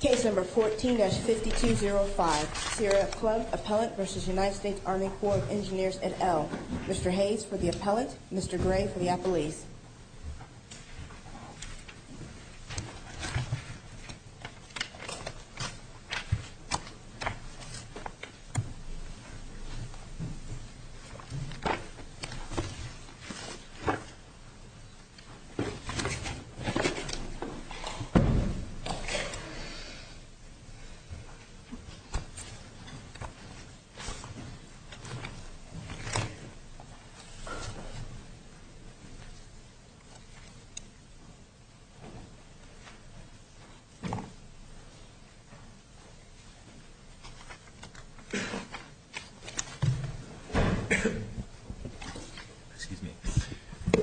Case number 14-5205, Sierra Club Appellant v. United States Army Corps of Engineers et al. Mr. Hayes for the Appellant, Mr. Gray for the Appellees.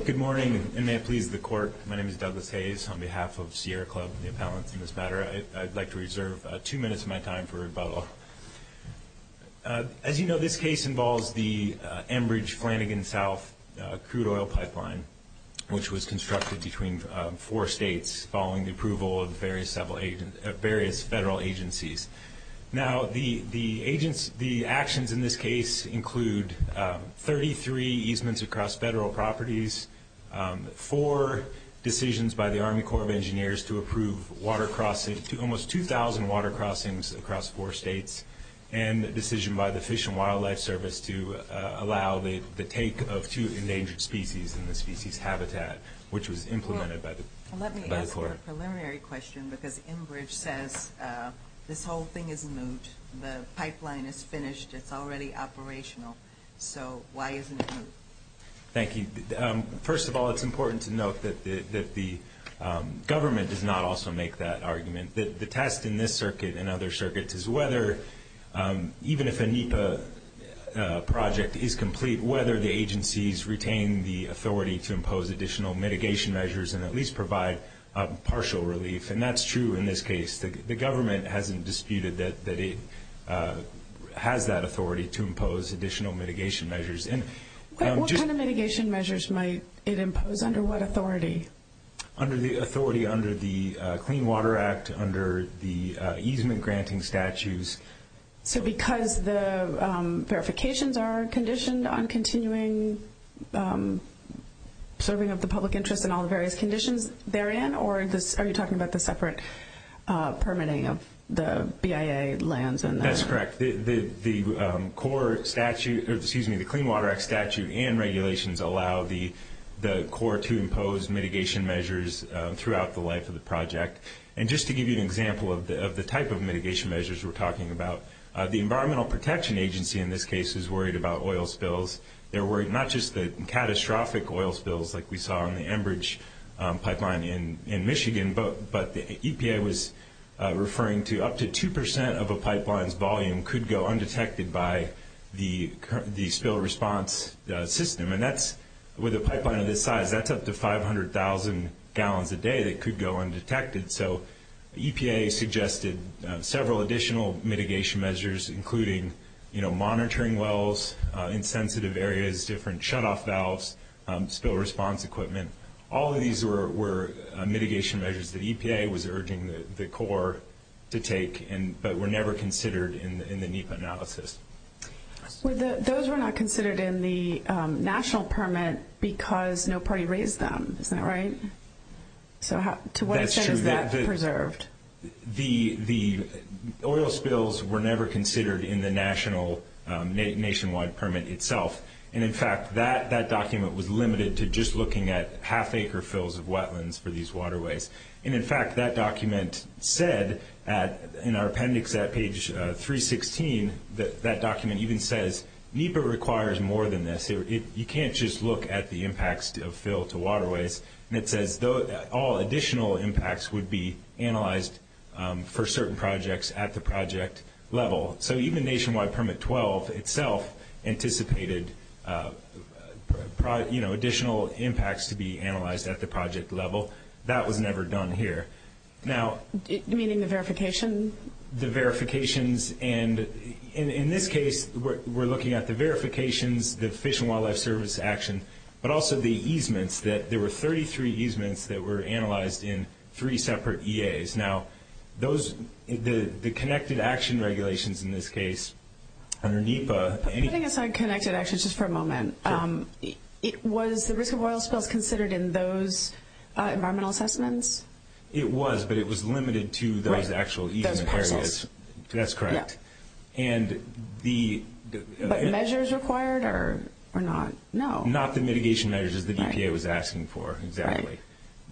Good morning and may it please the Court, my name is Douglas Hayes on behalf of Sierra Club Appellants in this matter. I'd like to reserve two minutes of my time for rebuttal. As you know, this case involves the Enbridge-Flanagan South crude oil pipeline, which was constructed between four states following the approval of various federal agencies. Now, the actions in this case include 33 easements across federal properties, four decisions by the Army Corps of Engineers to approve almost 2,000 water crossings across four states, and a decision by the Fish and Wildlife Service to allow the take of two endangered species in the species habitat, which was implemented by the Corps. Let me ask you a preliminary question, because Enbridge says this whole thing is moot, the pipeline is finished, it's already operational, so why isn't it moot? Thank you. First of all, it's important to note that the government does not also make that argument. The test in this circuit and other circuits is whether, even if a NEPA project is complete, whether the agencies retain the authority to impose additional mitigation measures and at least provide partial relief, and that's true in this case. The government hasn't disputed that it has that authority to impose additional mitigation measures. But what kind of mitigation measures might it impose? Under what authority? Under the authority under the Clean Water Act, under the easement granting statutes. So because the verifications are conditioned on continuing serving of the public interest in all the various conditions therein, or are you talking about the separate permitting of the BIA lands and that? That's correct. The Clean Water Act statute and regulations allow the Corps to impose mitigation measures throughout the life of the project. And just to give you an example of the type of mitigation measures we're talking about, the Environmental Protection Agency in this case is worried about oil spills. They're worried not just the catastrophic oil spills like we saw in the Enbridge pipeline in Michigan, but the EPA was referring to up to 2% of a pipeline's volume could go undetected by the spill response system. And that's, with a pipeline of this size, that's up to 500,000 gallons a day that could go undetected. So EPA suggested several additional mitigation measures, including monitoring wells in sensitive areas, different shutoff valves, spill response equipment. All of these were mitigation measures that EPA was urging the Corps to take, but were never considered in the NEPA analysis. Those were not considered in the national permit because no party raised them, is that right? So to what extent is that preserved? The oil spills were never considered in the national, nationwide permit itself. And in fact, that document said in our appendix at page 316, that document even says NEPA requires more than this. You can't just look at the impacts of fill to waterways. And it says all additional impacts would be analyzed for certain projects at the project level. So even nationwide permit 12 itself anticipated additional impacts to be analyzed at the project level. That was never done here. Meaning the verification? The verifications. And in this case, we're looking at the verifications, the Fish and Wildlife Service action, but also the easements. There were 33 easements that were analyzed in three separate EAs. Now, the connected action regulations in this case, under NEPA... Putting aside connected actions just for a moment, was the risk of oil spills considered in those environmental assessments? It was, but it was limited to those actual easement areas. Those parcels. That's correct. But measures required or not? No. Not the mitigation measures that EPA was asking for, exactly.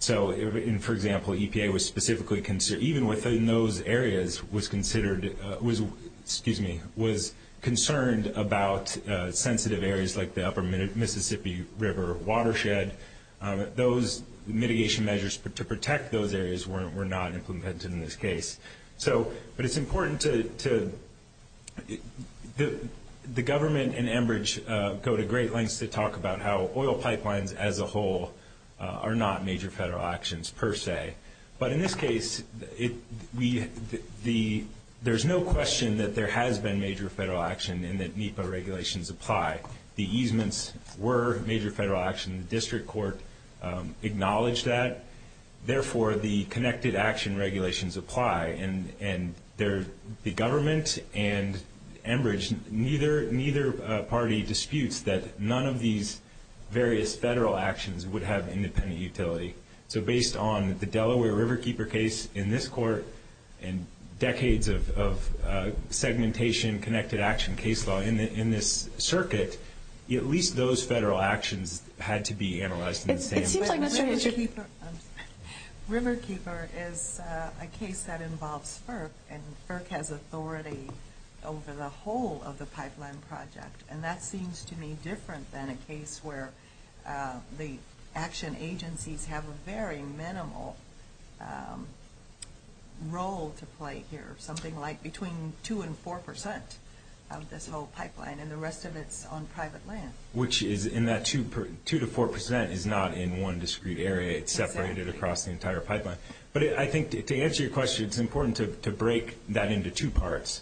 For example, EPA was specifically concerned, even within those areas, was concerned about sensitive areas like the upper Mississippi River watershed. Those mitigation measures to protect those areas were not implemented in this case. But it's important to... The government and Enbridge go to great lengths to talk about how oil pipelines, as a whole, are not major federal actions, per se. But in this case, there's no question that there has been major federal action and that NEPA regulations apply. The easements were major federal action. The district court acknowledged that. Therefore, the connected action regulations apply. The government and Enbridge have made clear in their disputes that none of these various federal actions would have independent utility. So based on the Delaware Riverkeeper case in this court and decades of segmentation connected action case law in this circuit, at least those federal actions had to be analyzed in the same way. But Riverkeeper is a case that involves FERC, and FERC has authority over the whole of the state. So it's to me different than a case where the action agencies have a very minimal role to play here. Something like between 2 and 4 percent of this whole pipeline, and the rest of it's on private land. Which is in that 2 to 4 percent is not in one discrete area. It's separated across the entire pipeline. But I think to answer your question, it's important to break that into two parts.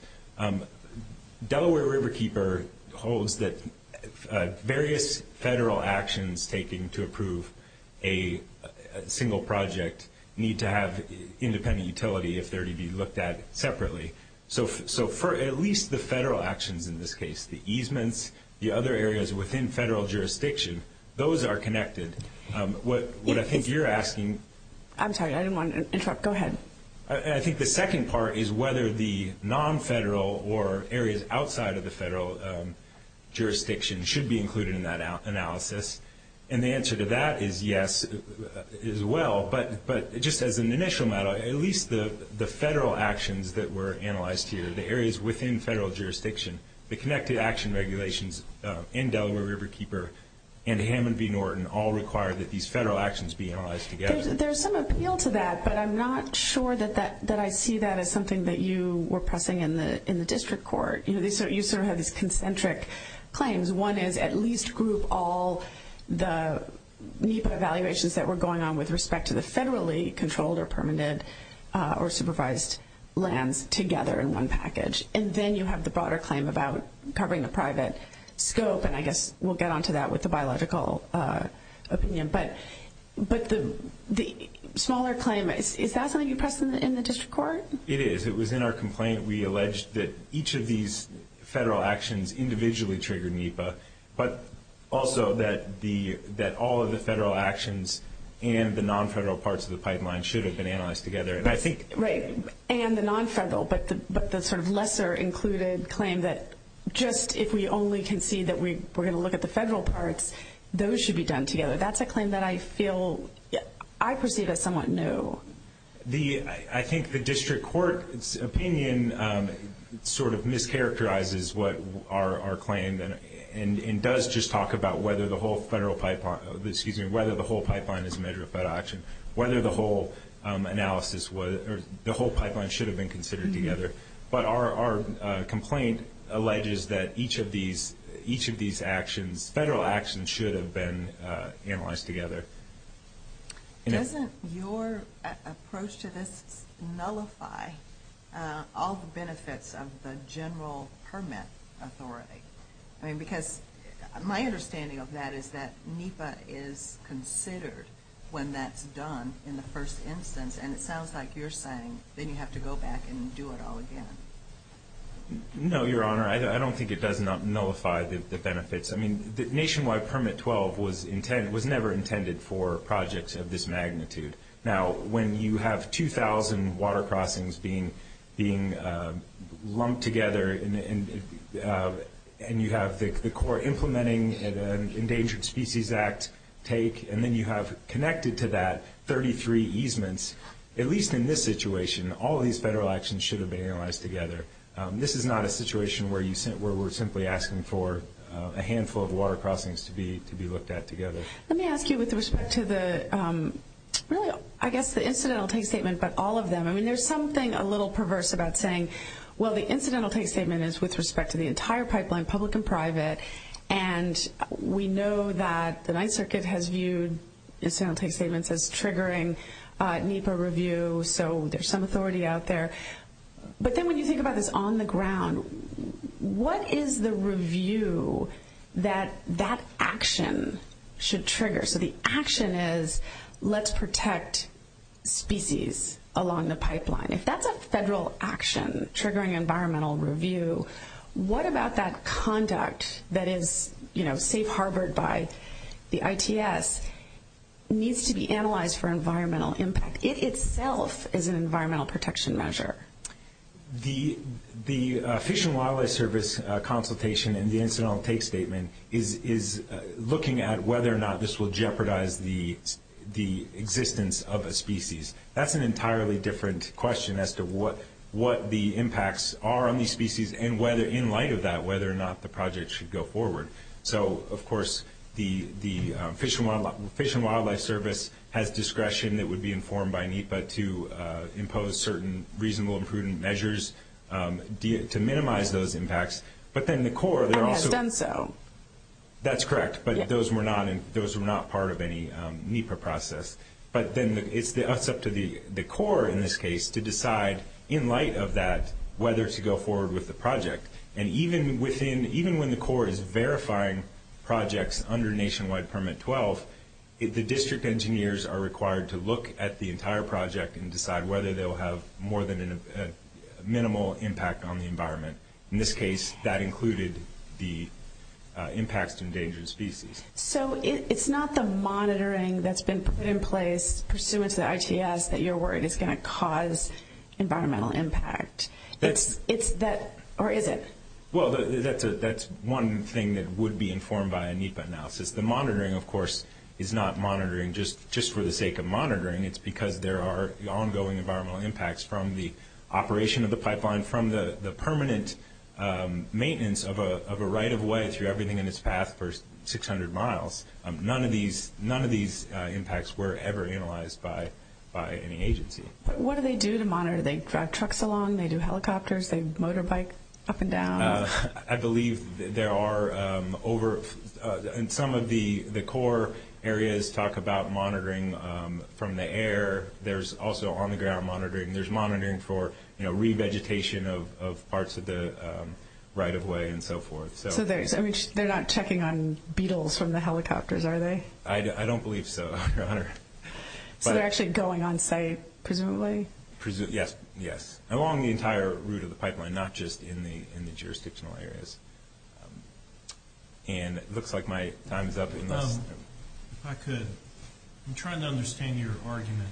Delaware Riverkeeper holds that various federal actions taking to approve a single project need to have independent utility if they're to be looked at separately. So for at least the federal actions in this case, the easements, the other areas within federal jurisdiction, those are connected. What I think you're asking... I'm sorry, I didn't want to interrupt. Go ahead. I think the second part is whether the non-federal or areas outside of the federal jurisdiction should be included in that analysis. And the answer to that is yes, as well. But just as an initial matter, at least the federal actions that were analyzed here, the areas within federal jurisdiction, the connected action regulations in Delaware Riverkeeper and Hammond v. Norton all require that these federal actions be analyzed together. There's some appeal to that, but I'm not sure that I see that as something that you were pressing in the district court. You sort of have these concentric claims. One is at least group all the NEPA evaluations that were going on with respect to the federally controlled or permanent or supervised lands together in one package. And then you have the broader claim about covering the private scope. And I guess we'll get onto that with the biological opinion. But the smaller claim, is that something you pressed in the district court? It is. It was in our complaint. We alleged that each of these federal actions individually triggered NEPA, but also that all of the federal actions and the non-federal parts of the pipeline should have been analyzed together. And I think... Right. And the non-federal, but the sort of lesser included claim that just if we only concede that we're going to look at the federal parts, those should be done together. That's a claim that I feel, I perceive as somewhat new. I think the district court's opinion sort of mischaracterizes what our claim, and does just talk about whether the whole pipeline is a measure of federal action. Whether the whole analysis, the whole pipeline should have been considered together. But our complaint alleges that each of these actions, federal actions, should have been analyzed together. Doesn't your approach to this nullify all the benefits of the general permit authority? Because my understanding of that is that NEPA is considered when that's done in the first instance. And it sounds like you're saying, then you have to go back and do it all again. No, your honor. I don't think it does nullify the benefits. I mean, the nationwide permit 12 was never intended for projects of this magnitude. Now, when you have 2,000 water crossings being lumped together, and you have the court implementing an Endangered Species Act take, and then you have connected to that 33 easements, at least in this situation, all of these federal actions should have been analyzed together. This is not a situation where we're simply asking for a handful of water crossings to be looked at together. Let me ask you with respect to the, really, I guess the incidental take statement, but all of them. I mean, there's something a little perverse about saying, well, the incidental take statement is with respect to the entire pipeline, public and private, and we know that the Ninth Circuit has viewed incidental take statements as triggering NEPA review, so there's some authority out there. But then when you think about this on the ground, what is the review that that action should trigger? So the action is, let's protect species along the pipeline. If that's a federal action triggering environmental review, what about that conduct that is safe-harbored by the ITS needs to be analyzed for environmental impact? It itself is an environmental protection measure. The Fish and Wildlife Service consultation and the incidental take statement is looking at whether or not this will jeopardize the existence of a species. That's an entirely different question as to what the impacts are on these species and whether, in light of that, whether or not the project should go forward. So, of course, the Fish and Wildlife Service has discretion that would be informed by NEPA to impose certain reasonable and prudent measures to minimize those impacts. But then the Corps... And has done so. That's correct, but those were not part of any NEPA process. But then it's up to the Corps, in this case, to decide, in light of that, whether to go forward with the project. And even when the Corps is verifying projects under Nationwide Permit 12, the district engineers are required to look at the entire project and decide whether they will have more than a minimal impact on the environment. In this case, that included the impacts to endangered species. So, it's not the monitoring that's been put in place pursuant to the ITS that you're worried is going to cause environmental impact. It's that... Or is it? Well, that's one thing that would be informed by a NEPA analysis. The monitoring, of course, is not monitoring just for the sake of monitoring. It's because there are ongoing environmental impacts from the operation of the pipeline, from the permanent maintenance of a right-of-way through everything in its path for 600 miles. None of these impacts were ever analyzed by any agency. What do they do to monitor? Do they drive trucks along? Do they do helicopters? Do they motorbike up and down? I believe there are... Some of the Corps areas talk about monitoring from the air. There's also on-the-ground monitoring. There's monitoring for revegetation of parts of the right-of-way and so forth. So, they're not checking on beetles from the helicopters, are they? I don't believe so, Your Honor. So, they're actually going on-site, presumably? Yes. Along the entire route of the pipeline, not just in the jurisdictional areas. And it looks like my time is up. If I could, I'm trying to understand your argument,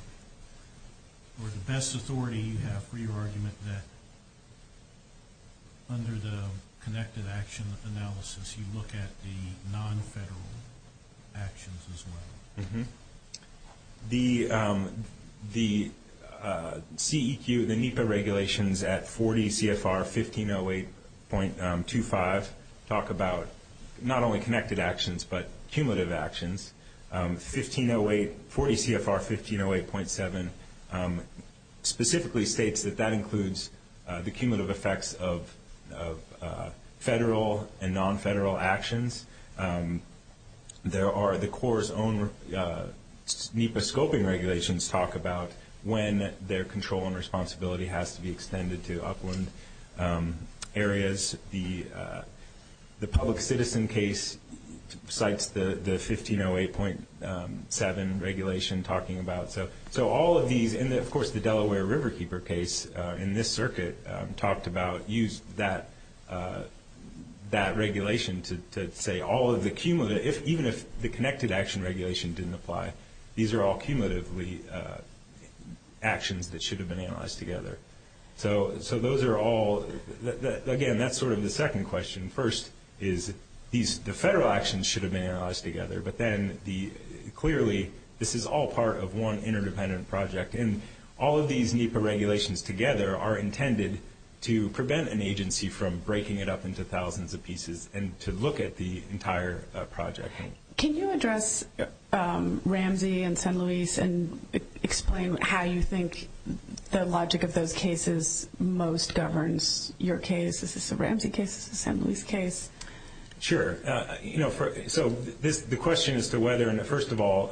or the best authority you have for your argument that under the connected action analysis, you look at the non-federal actions as well. The CEQ, the NEPA regulations at 40 CFR 1508.25, talk about not only connected actions, but cumulative actions. 1508, 40 CFR 1508.7, specifically states that that includes the cumulative effects of federal and non-federal actions. There are the Corps' own NEPA scoping regulations talk about when their control and responsibility has to be extended to upland areas. The public citizen case cites the 1508.7 regulation talking about. So, all of these, and of course, the Delaware Riverkeeper case in this circuit talked about use that regulation to say all of the cumulative, even if the connected action regulation didn't apply, these are all cumulatively actions that should have been analyzed together. So, those are all, again, that's sort of the second question. First is, the federal actions should have been analyzed together, but then, clearly, this is all part of one interdependent project, and all of these NEPA regulations together are intended to prevent an agency from breaking it up into thousands of pieces and to look at the entire project. Can you address Ramsey and San Luis and explain how you think the logic of those cases most governs your case? Is this a Ramsey case? Is this a San Luis case? Sure. So, the question as to whether, and first of all,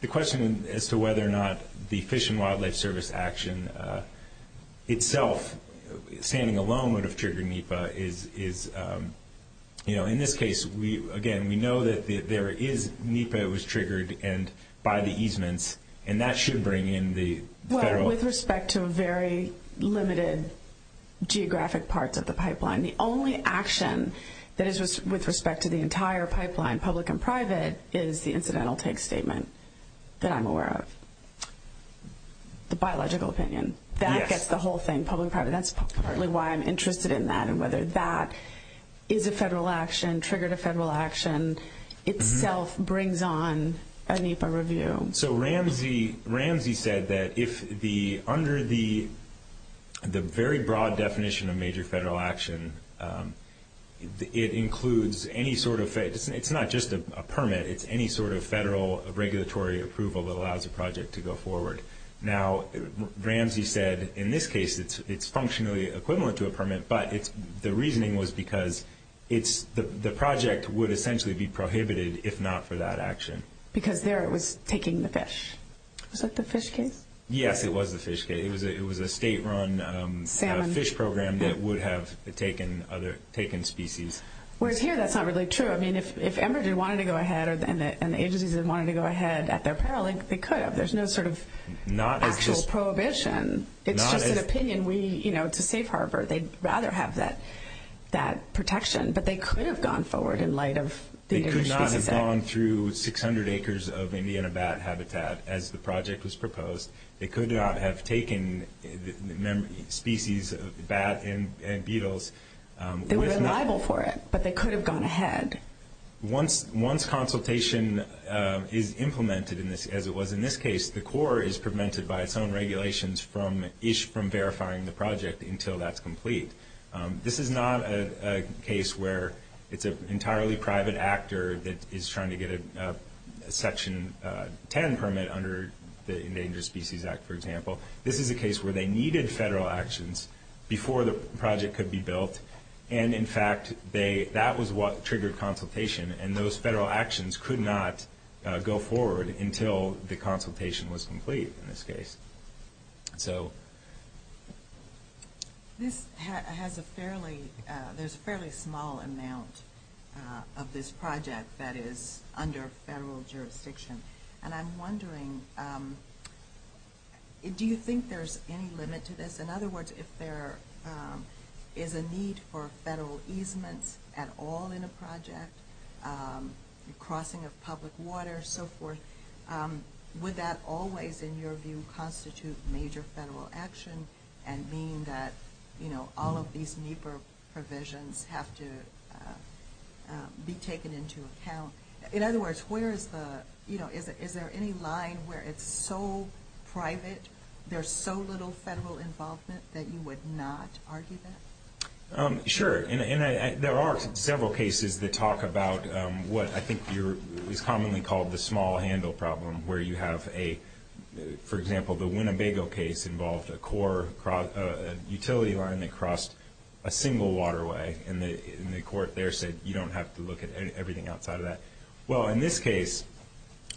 the question as to whether or not the Fish and Wildlife Service action itself, standing alone, would have triggered NEPA is, in this case, again, we know that there is NEPA that was triggered by the easements, and that should bring in the federal... That is, with respect to the entire pipeline, public and private, is the incidental take statement that I'm aware of. The biological opinion. Yes. That gets the whole thing, public and private. That's partly why I'm interested in that and whether that is a federal action, triggered a federal action, itself brings on a NEPA review. Ramsey said that under the very broad definition of major federal action, it includes any sort of... It's not just a permit. It's any sort of federal regulatory approval that allows a project to go forward. Now, Ramsey said, in this case, it's functionally equivalent to a permit, but the reasoning was because the project would essentially be prohibited if not for that action. Because there, it was taking the fish. Was that the fish case? Yes, it was the fish case. It was a state-run fish program that would have taken species. Whereas here, that's not really true. I mean, if Emergen wanted to go ahead and the agencies had wanted to go ahead at their peril, they could have. There's no sort of actual prohibition. It's just an opinion. To safe harbor, they'd rather have that protection, but they could have gone forward in light of... They could not have gone through 600 acres of Indiana bat habitat as the project was proposed. They could not have taken species of bat and beetles. They were liable for it, but they could have gone ahead. Once consultation is implemented as it was in this case, the Corps is prevented by its This is not a case where it's an entirely private actor that is trying to get a Section 10 permit under the Endangered Species Act, for example. This is a case where they needed federal actions before the project could be built. And in fact, that was what triggered consultation. And those federal actions could not go forward until the consultation was complete in this case. So... This has a fairly... There's a fairly small amount of this project that is under federal jurisdiction. And I'm wondering, do you think there's any limit to this? In other words, if there is a need for federal easements at all in a project, crossing of constitute major federal action and mean that all of these NEPA provisions have to be taken into account. In other words, where is the... Is there any line where it's so private, there's so little federal involvement that you would not argue that? Sure. And there are several cases that talk about what I think is commonly called the small The Winnebago case involved a core utility line that crossed a single waterway. And the court there said, you don't have to look at everything outside of that. Well, in this case,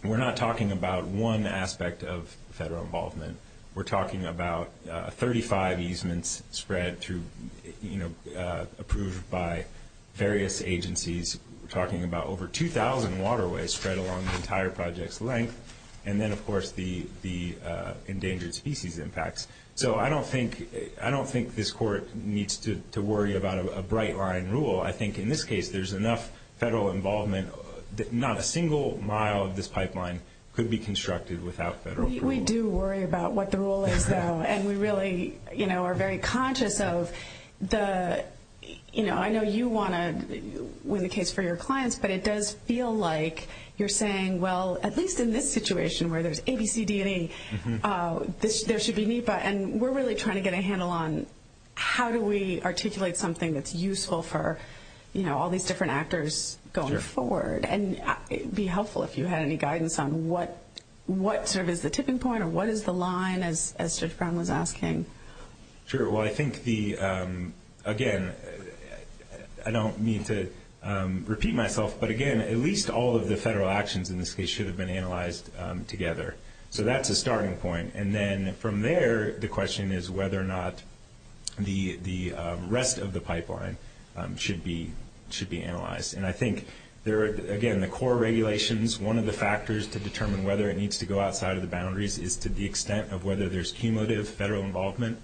we're not talking about one aspect of federal involvement. We're talking about 35 easements spread through... Approved by various agencies. We're talking about over 2,000 waterways spread along the entire project's length. And then, of course, the endangered species impacts. So I don't think this court needs to worry about a bright line rule. I think in this case, there's enough federal involvement that not a single mile of this pipeline could be constructed without federal approval. We do worry about what the rule is, though. And we really are very conscious of the... I know you want to win the case for your clients, but it does feel like you're saying, well, at least in this situation where there's ABCD&E, there should be NEPA. And we're really trying to get a handle on how do we articulate something that's useful for all these different actors going forward. And it would be helpful if you had any guidance on what sort of is the tipping point or what is the line, as Judge Brown was asking. Sure. Well, I think the... Again, I don't mean to repeat myself, but again, at least all of the federal actions in this case should have been analyzed together. So that's a starting point. And then from there, the question is whether or not the rest of the pipeline should be analyzed. And I think, again, the core regulations, one of the factors to determine whether it needs to go outside of the boundaries is to the extent of whether there's cumulative federal involvement.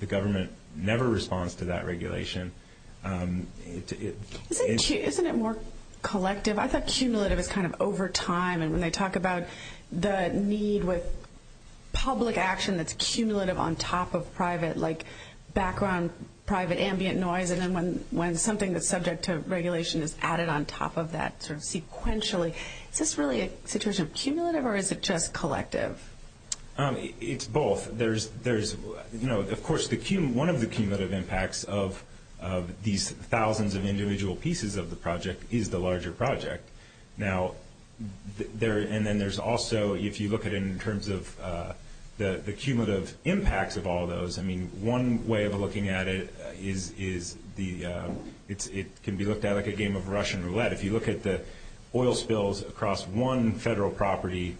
The government never responds to that regulation. Isn't it more collective? I thought cumulative is kind of over time. And when they talk about the need with public action that's cumulative on top of private, like background private ambient noise, and then when something that's subject to regulation is added on top of that sort of sequentially, is this really a situation of cumulative or is it just collective? It's both. Of course, one of the cumulative impacts of these thousands of individual pieces of the project is the larger project. Now, and then there's also, if you look at it in terms of the cumulative impacts of all those, I mean, one way of looking at it is it can be looked at like a game of Russian roulette. If you look at the oil spills across one federal property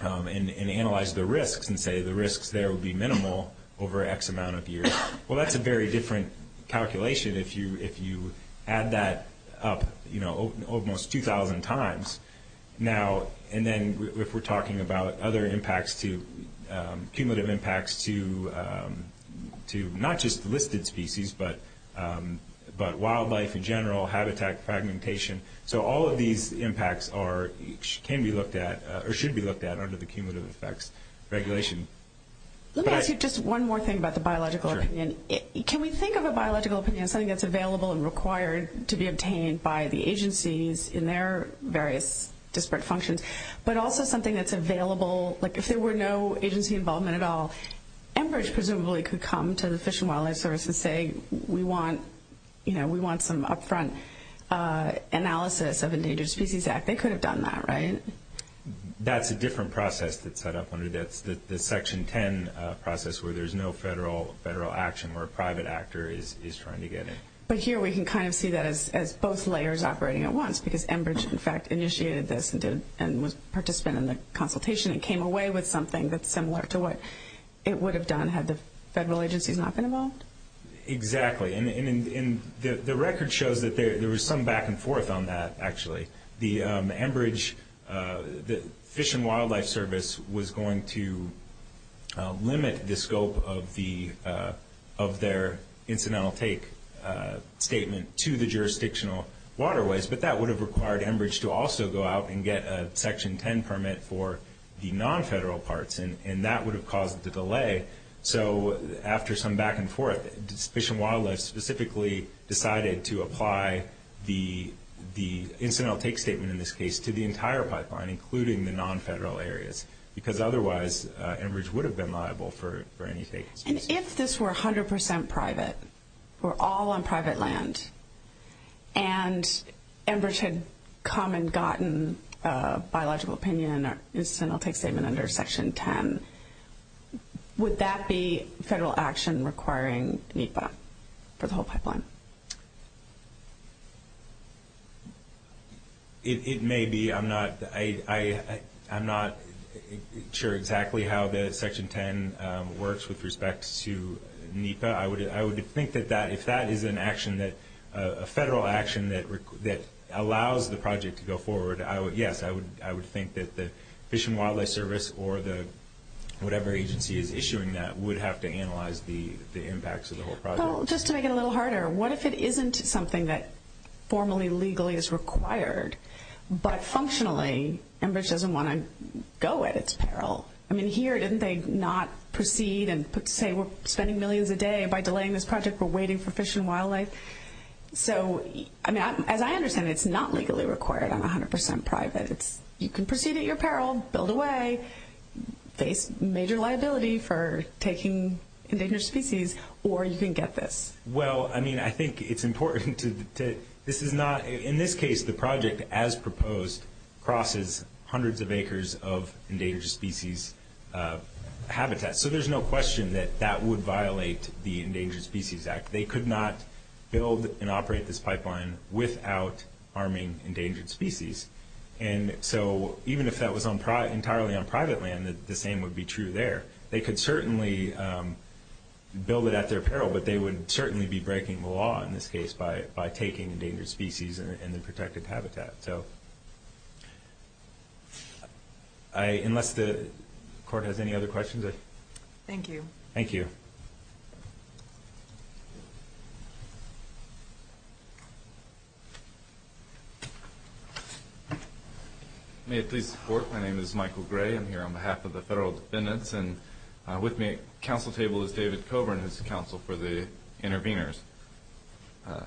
and analyze the risks and say the risks there would be minimal over X amount of years, well, that's a very different calculation if you add that up almost 2,000 times. And then if we're talking about other impacts, cumulative impacts to not just listed species but wildlife in general, habitat, fragmentation, so all of these impacts can be looked at or should be looked at under the cumulative effects regulation. Let me ask you just one more thing about the biological opinion. Can we think of a biological opinion as something that's available and required to be obtained by the agencies in their various disparate functions, but also something that's available, like if there were no agency involvement at all, Enbridge presumably could come to the Fish and Wildlife Service and say, we want some upfront analysis of Endangered Species Act. They could have done that, right? That's a different process that's set up under the Section 10 process where there's no federal action where a private actor is trying to get in. But here we can kind of see that as both layers operating at once because Enbridge, in fact, initiated this and was a participant in the consultation and came away with something that's similar to what it would have done had the federal agencies not been involved? Exactly. And the record shows that there was some back and forth on that, actually. The Enbridge Fish and Wildlife Service was going to limit the scope of their incidental take statement to the jurisdictional waterways, but that would have required Enbridge to also go out and get a Section 10 permit for the non-federal parts, and that would have caused the delay. So after some back and forth, Fish and Wildlife specifically decided to apply the incidental take statement in this case to the entire pipeline, including the non-federal areas, because otherwise Enbridge would have been liable for any take. And if this were 100% private, or all on private land, and Enbridge had come and gotten a biological opinion or incidental take statement under Section 10, would that be federal action requiring NEPA for the whole pipeline? It may be. I'm not sure exactly how the Section 10 works with respect to NEPA. I would think that if that is a federal action that allows the project to go forward, yes, I would think that the Fish and Wildlife Service or whatever agency is issuing that would have to analyze the impacts of the whole project. Just to make it a little harder, what if it isn't something that formally legally is required, but functionally Enbridge doesn't want to go at its peril? I mean, here didn't they not proceed and say we're spending millions a day So, as I understand it, it's not legally required on 100% private. You can proceed at your peril, build away, face major liability for taking endangered species, or you can get this. Well, I mean, I think it's important. In this case, the project, as proposed, crosses hundreds of acres of endangered species habitat. So there's no question that that would violate the Endangered Species Act. They could not build and operate this pipeline without arming endangered species. And so even if that was entirely on private land, the same would be true there. They could certainly build it at their peril, but they would certainly be breaking the law in this case by taking endangered species and their protected habitat. Unless the court has any other questions? Thank you. Thank you. May it please the Court, my name is Michael Gray. I'm here on behalf of the Federal Defendants, and with me at the council table is David Coburn, who's the counsel for the interveners. I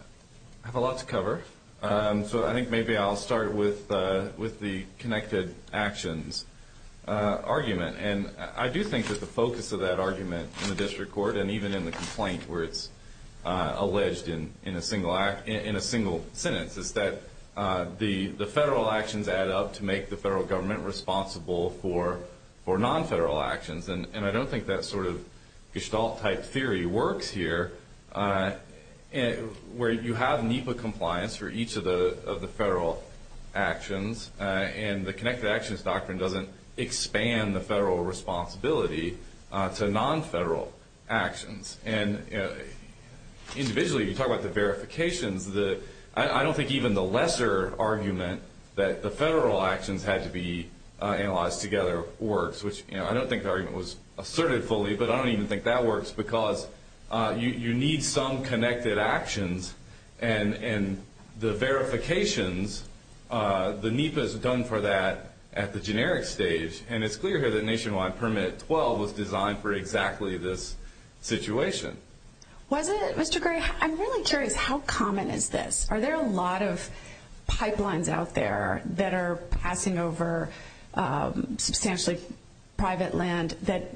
have a lot to cover, so I think maybe I'll start with the connected actions argument. And I do think that the focus of that argument in the district court, and even in the complaint where it's alleged in a single sentence, is that the federal actions add up to make the federal government responsible for non-federal actions. And I don't think that sort of Gestalt-type theory works here, where you have NEPA compliance for each of the federal actions, and the connected actions doctrine doesn't expand the federal responsibility to non-federal actions. And individually, you talk about the verifications, I don't think even the lesser argument that the federal actions had to be analyzed together works, which I don't think the argument was asserted fully, but I don't even think that works because you need some connected actions, and the verifications, the NEPA's done for that at the generic stage, and it's clear here that Nationwide Permit 12 was designed for exactly this situation. Was it, Mr. Gray? I'm really curious, how common is this? Are there a lot of pipelines out there that are passing over substantially private land that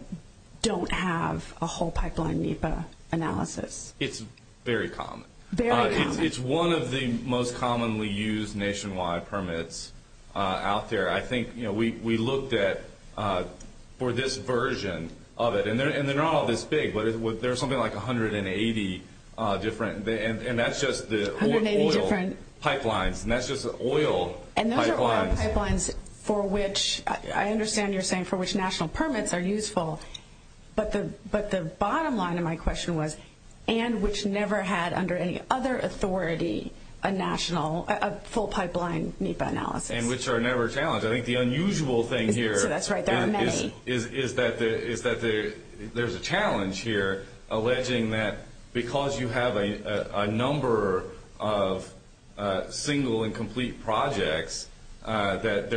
don't have a whole pipeline NEPA analysis? It's very common. Very common. It's one of the most commonly used nationwide permits out there. I think we looked at, for this version of it, and they're not all this big, but there's something like 180 different, and that's just the oil pipelines, and that's just the oil pipelines. And those are oil pipelines for which, I understand you're saying for which national permits are useful, but the bottom line of my question was, and which never had, under any other authority, a full pipeline NEPA analysis. And which are never challenged. I think the unusual thing here is that there's a challenge here, alleging that because you have a number of single and complete projects, that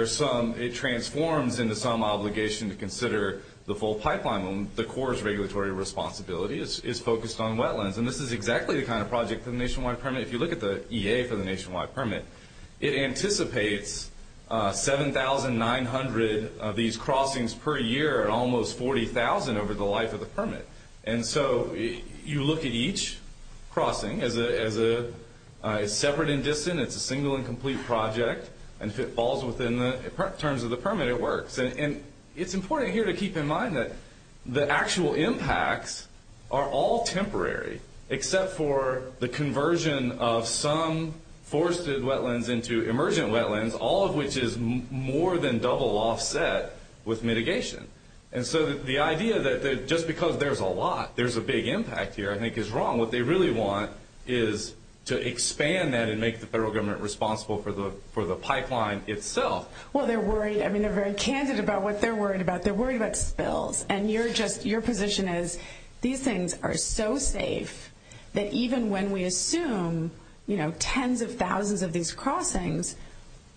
it transforms into some obligation to consider the full pipeline. The core is regulatory responsibility. It's focused on wetlands, and this is exactly the kind of project for the nationwide permit. If you look at the EA for the nationwide permit, it anticipates 7,900 of these crossings per year, almost 40,000 over the life of the permit. And so you look at each crossing as a separate and distant, it's a single and complete project. And if it falls within the terms of the permit, it works. And it's important here to keep in mind that the actual impacts are all temporary, except for the conversion of some forested wetlands into emergent wetlands, all of which is more than double offset with mitigation. And so the idea that just because there's a lot, there's a big impact here, I think is wrong. What they really want is to expand that and make the federal government responsible for the pipeline itself. Well, they're worried. I mean, they're very candid about what they're worried about. They're worried about spills. And your position is these things are so safe that even when we assume tens of thousands of these crossings,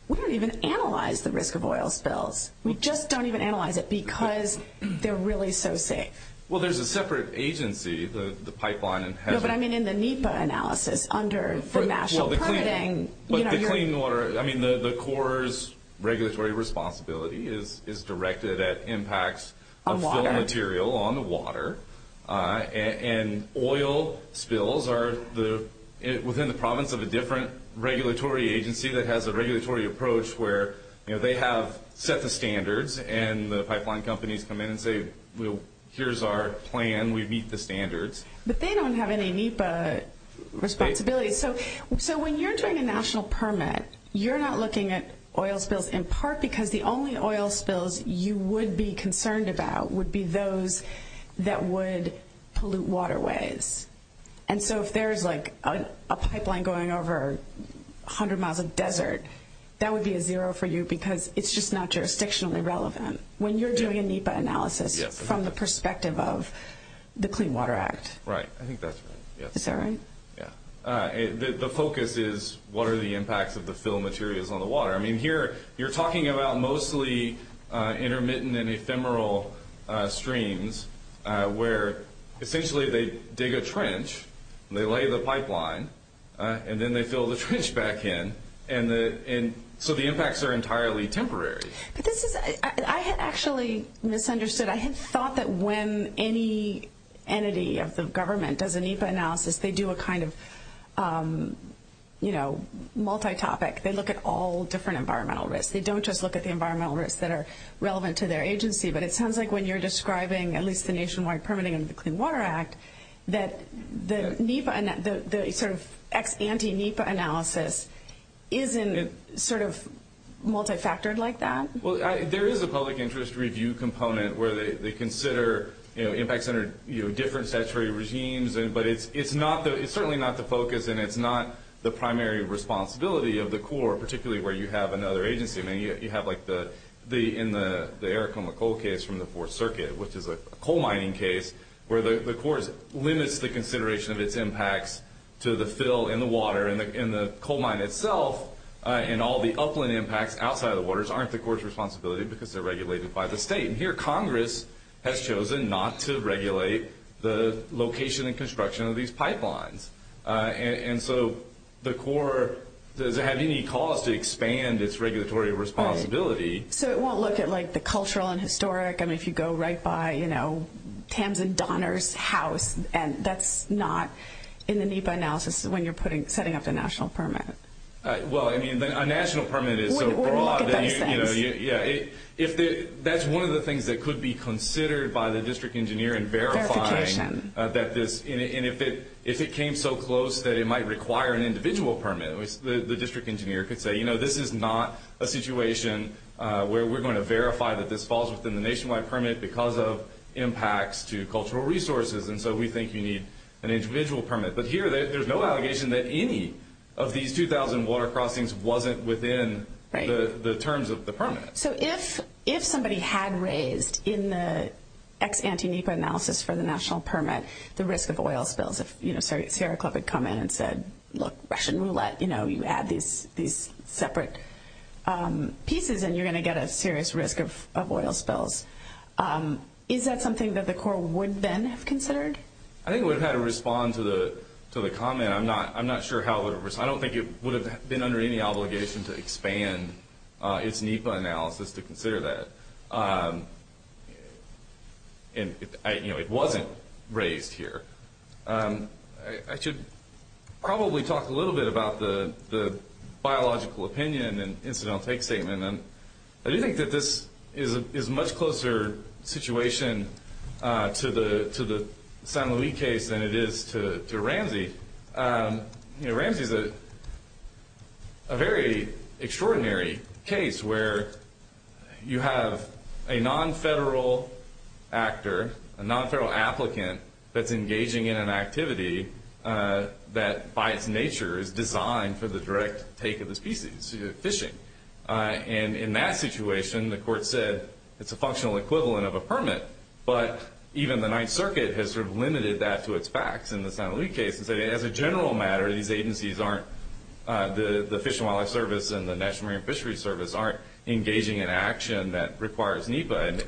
we don't even analyze the risk of oil spills. We just don't even analyze it because they're really so safe. Well, there's a separate agency, the pipeline. No, but I mean in the NEPA analysis under the national permitting. But the clean water, I mean, the Corps' regulatory responsibility is directed at impacts of fill material on the water. And oil spills are within the province of a different regulatory agency that has a regulatory approach where they have set the standards and the pipeline companies come in and say, well, here's our plan. We meet the standards. But they don't have any NEPA responsibilities. So when you're doing a national permit, you're not looking at oil spills in part because the only oil spills you would be concerned about would be those that would pollute waterways. And so if there's like a pipeline going over 100 miles of desert, that would be a zero for you because it's just not jurisdictionally relevant when you're doing a NEPA analysis from the perspective of the Clean Water Act. Right. I think that's right. Is that right? Yeah. The focus is what are the impacts of the fill materials on the water? I mean, here you're talking about mostly intermittent and ephemeral streams where essentially they dig a trench, and they lay the pipeline, and then they fill the trench back in. And so the impacts are entirely temporary. I had actually misunderstood. I had thought that when any entity of the government does a NEPA analysis, they do a kind of, you know, multi-topic. They look at all different environmental risks. They don't just look at the environmental risks that are relevant to their agency. But it sounds like when you're describing at least the nationwide permitting of the Clean Water Act, that the sort of ex-anti-NEPA analysis isn't sort of multifactored like that. Well, there is a public interest review component where they consider impacts under different statutory regimes. But it's certainly not the focus, and it's not the primary responsibility of the Corps, particularly where you have another agency. I mean, you have like in the Aracoma coal case from the Fourth Circuit, which is a coal mining case, where the Corps limits the consideration of its impacts to the fill in the water. And the coal mine itself and all the upland impacts outside of the waters aren't the Corps' responsibility because they're regulated by the state. And here Congress has chosen not to regulate the location and construction of these pipelines. And so the Corps doesn't have any cause to expand its regulatory responsibility. So it won't look at like the cultural and historic. I mean, if you go right by, you know, Tams and Donner's house, and that's not in the NEPA analysis when you're setting up the national permit. Well, I mean, a national permit is so broad that, you know, that's one of the things that could be considered by the district engineer in verifying that this, and if it came so close that it might require an individual permit, the district engineer could say, you know, this is not a situation where we're going to verify that this falls within the nationwide permit because of impacts to cultural resources. And so we think you need an individual permit. But here there's no allegation that any of these 2,000 water crossings wasn't within the terms of the permit. So if somebody had raised in the ex-anti-NEPA analysis for the national permit the risk of oil spills, if Sierra Club had come in and said, look, Russian roulette, you know, you add these separate pieces and you're going to get a serious risk of oil spills, is that something that the Corps would then have considered? I think it would have had to respond to the comment. I'm not sure how it would have responded. I don't think it would have been under any obligation to expand its NEPA analysis to consider that. And, you know, it wasn't raised here. I should probably talk a little bit about the biological opinion and incidental take statement. I do think that this is a much closer situation to the San Luis case than it is to Ramsey. You know, Ramsey is a very extraordinary case where you have a non-federal actor, a non-federal applicant that's engaging in an activity that, by its nature, is designed for the direct take of the species, fishing. And in that situation, the court said it's a functional equivalent of a permit, but even the Ninth Circuit has sort of limited that to its facts in the San Luis case and said as a general matter, these agencies aren't, the Fish and Wildlife Service and the National Marine Fishery Service aren't engaging in action that requires NEPA.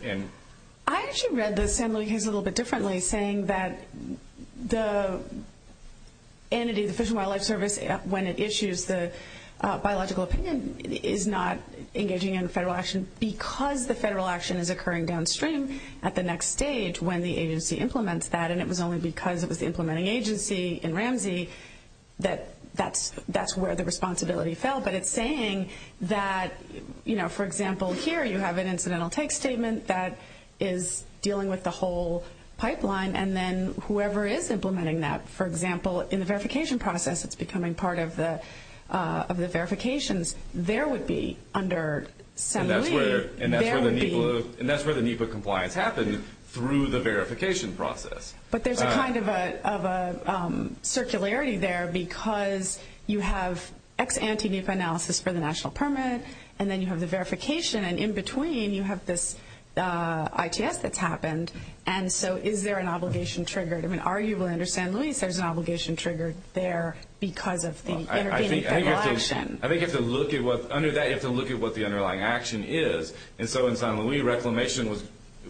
I actually read the San Luis case a little bit differently, saying that the entity, the Fish and Wildlife Service, when it issues the biological opinion, is not engaging in federal action because the federal action is occurring downstream at the next stage when the agency implements that, and it was only because it was the implementing agency in Ramsey that that's where the responsibility fell. But it's saying that, you know, for example, here you have an incidental take statement that is dealing with the whole pipeline, and then whoever is implementing that, for example, in the verification process, it's becoming part of the verifications, there would be under San Luis, there would be... And that's where the NEPA compliance happened, through the verification process. But there's a kind of a circularity there because you have ex ante NEPA analysis and in between you have this ITS that's happened, and so is there an obligation triggered? I mean, arguably under San Luis, there's an obligation triggered there because of the intervening federal action. I think you have to look at what the underlying action is, and so in San Luis, reclamation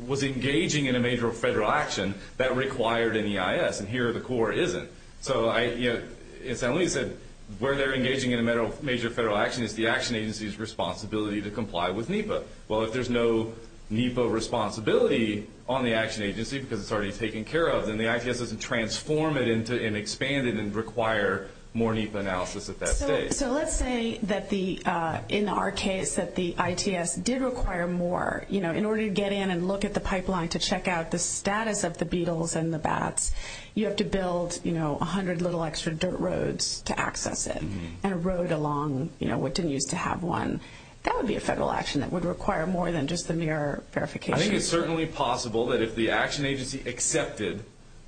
was engaging in a major federal action that required an EIS, and here the Corps isn't. So, you know, in San Luis, where they're engaging in a major federal action is the action agency's responsibility to comply with NEPA. Well, if there's no NEPA responsibility on the action agency because it's already taken care of, then the ITS doesn't transform it and expand it and require more NEPA analysis at that stage. So let's say that in our case that the ITS did require more, you know, in order to get in and look at the pipeline to check out the status of the beetles and the bats, you have to build, you know, 100 little extra dirt roads to access it, and a road along, you know, what didn't used to have one, that would be a federal action that would require more than just the mere verification. I think it's certainly possible that if the action agency accepted,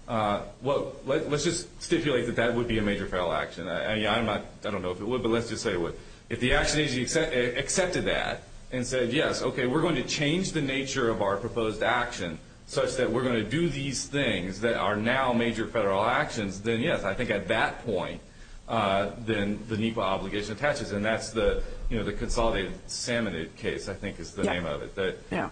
well, let's just stipulate that that would be a major federal action. I mean, I don't know if it would, but let's just say it would. If the action agency accepted that and said, yes, okay, we're going to change the nature of our proposed action such that we're going to do these things that are now major federal actions, then yes, I think at that point, then the NEPA obligation attaches, and that's the, you know, the Consolidated Salmonid case, I think is the name of it.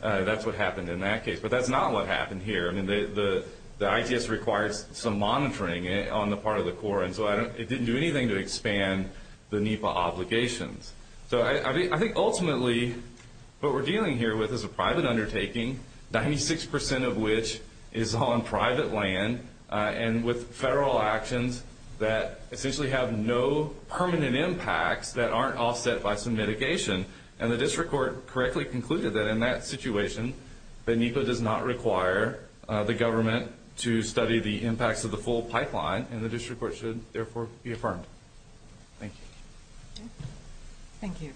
That's what happened in that case, but that's not what happened here. I mean, the ITS requires some monitoring on the part of the Corps, and so it didn't do anything to expand the NEPA obligations. So I think ultimately what we're dealing here with is a private undertaking, 96% of which is on private land, and with federal actions that essentially have no permanent impacts that aren't offset by some mitigation. And the district court correctly concluded that in that situation, the NEPA does not require the government to study the impacts of the full pipeline, and the district court should therefore be affirmed. Thank you. Thank you.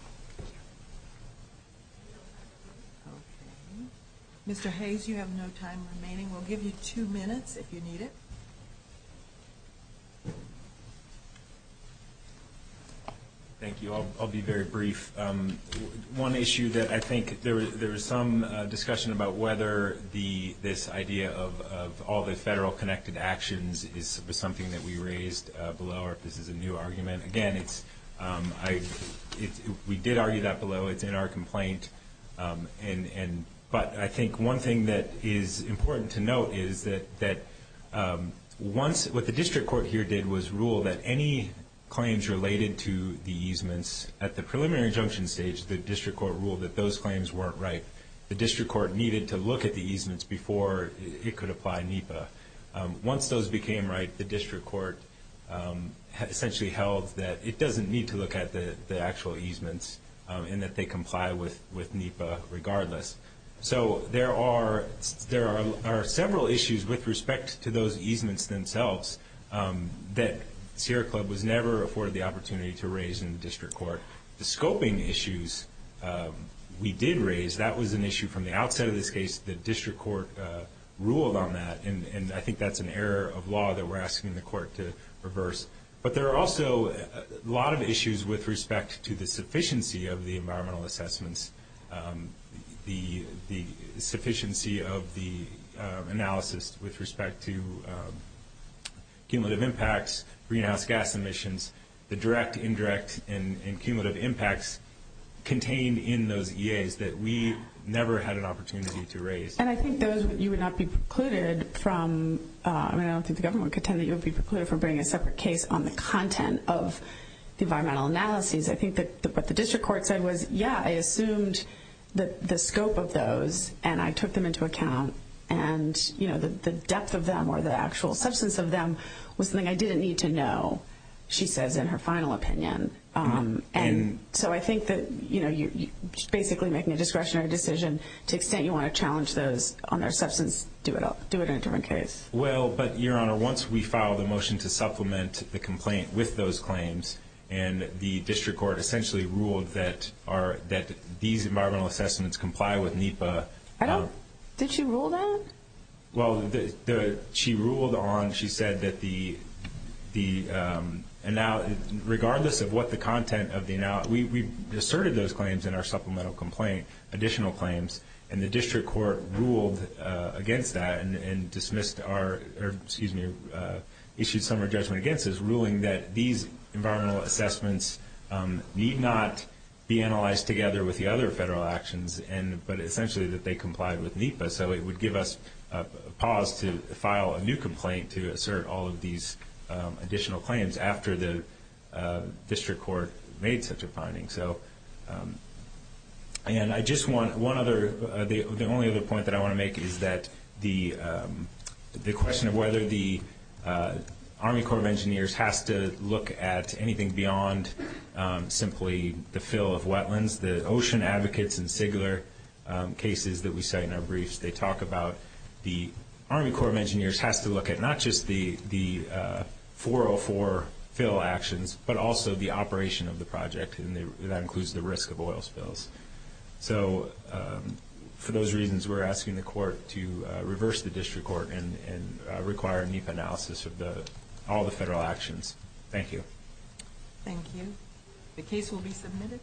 Mr. Hayes, you have no time remaining. We'll give you two minutes if you need it. Thank you. I'll be very brief. One issue that I think there was some discussion about whether this idea of all the federal connected actions is something that we raised below, or if this is a new argument. Again, we did argue that below. It's in our complaint. But I think one thing that is important to note is that once what the district court here did was rule that any claims related to the easements at the preliminary injunction stage, the district court ruled that those claims weren't right. The district court needed to look at the easements before it could apply NEPA. Once those became right, the district court essentially held that it doesn't need to look at the actual easements and that they comply with NEPA regardless. So there are several issues with respect to those easements themselves that Sierra Club was never afforded the opportunity to raise in the district court. The scoping issues we did raise, that was an issue from the outset of this case. The district court ruled on that. And I think that's an error of law that we're asking the court to reverse. But there are also a lot of issues with respect to the sufficiency of the environmental assessments, the sufficiency of the analysis with respect to cumulative impacts, greenhouse gas emissions, the direct, indirect, and cumulative impacts contained in those EAs that we never had an opportunity to raise. And I think those, you would not be precluded from, I mean, I don't think the government would pretend that you would be precluded from bringing a separate case on the content of the environmental analyses. I think that what the district court said was, yeah, I assumed the scope of those and I took them into account. And, you know, the depth of them or the actual substance of them was something I didn't need to know, she says in her final opinion. And so I think that, you know, you're basically making a discretionary decision. To the extent you want to challenge those on their substance, do it in a different case. Well, but, Your Honor, once we filed a motion to supplement the complaint with those claims and the district court essentially ruled that these environmental assessments comply with NEPA. Did she rule that? Well, she ruled on, she said that the analysis, regardless of what the content of the analysis, we asserted those claims in our supplemental complaint, additional claims, and the district court ruled against that and dismissed our, or excuse me, issued some of our judgment against this, ruling that these environmental assessments need not be analyzed together with the other federal actions, but essentially that they complied with NEPA. So it would give us a pause to file a new complaint to assert all of these additional claims after the district court made such a finding. So, and I just want one other, the only other point that I want to make is that the question of whether the Army Corps of Engineers has to look at anything beyond simply the fill of wetlands, the ocean advocates in Sigler cases that we cite in our briefs, they talk about the Army Corps of Engineers has to look at not just the 404 fill actions, but also the operation of the project, and that includes the risk of oil spills. So for those reasons, we're asking the court to reverse the district court and require NEPA analysis of all the federal actions. Thank you. Thank you. The case will be submitted.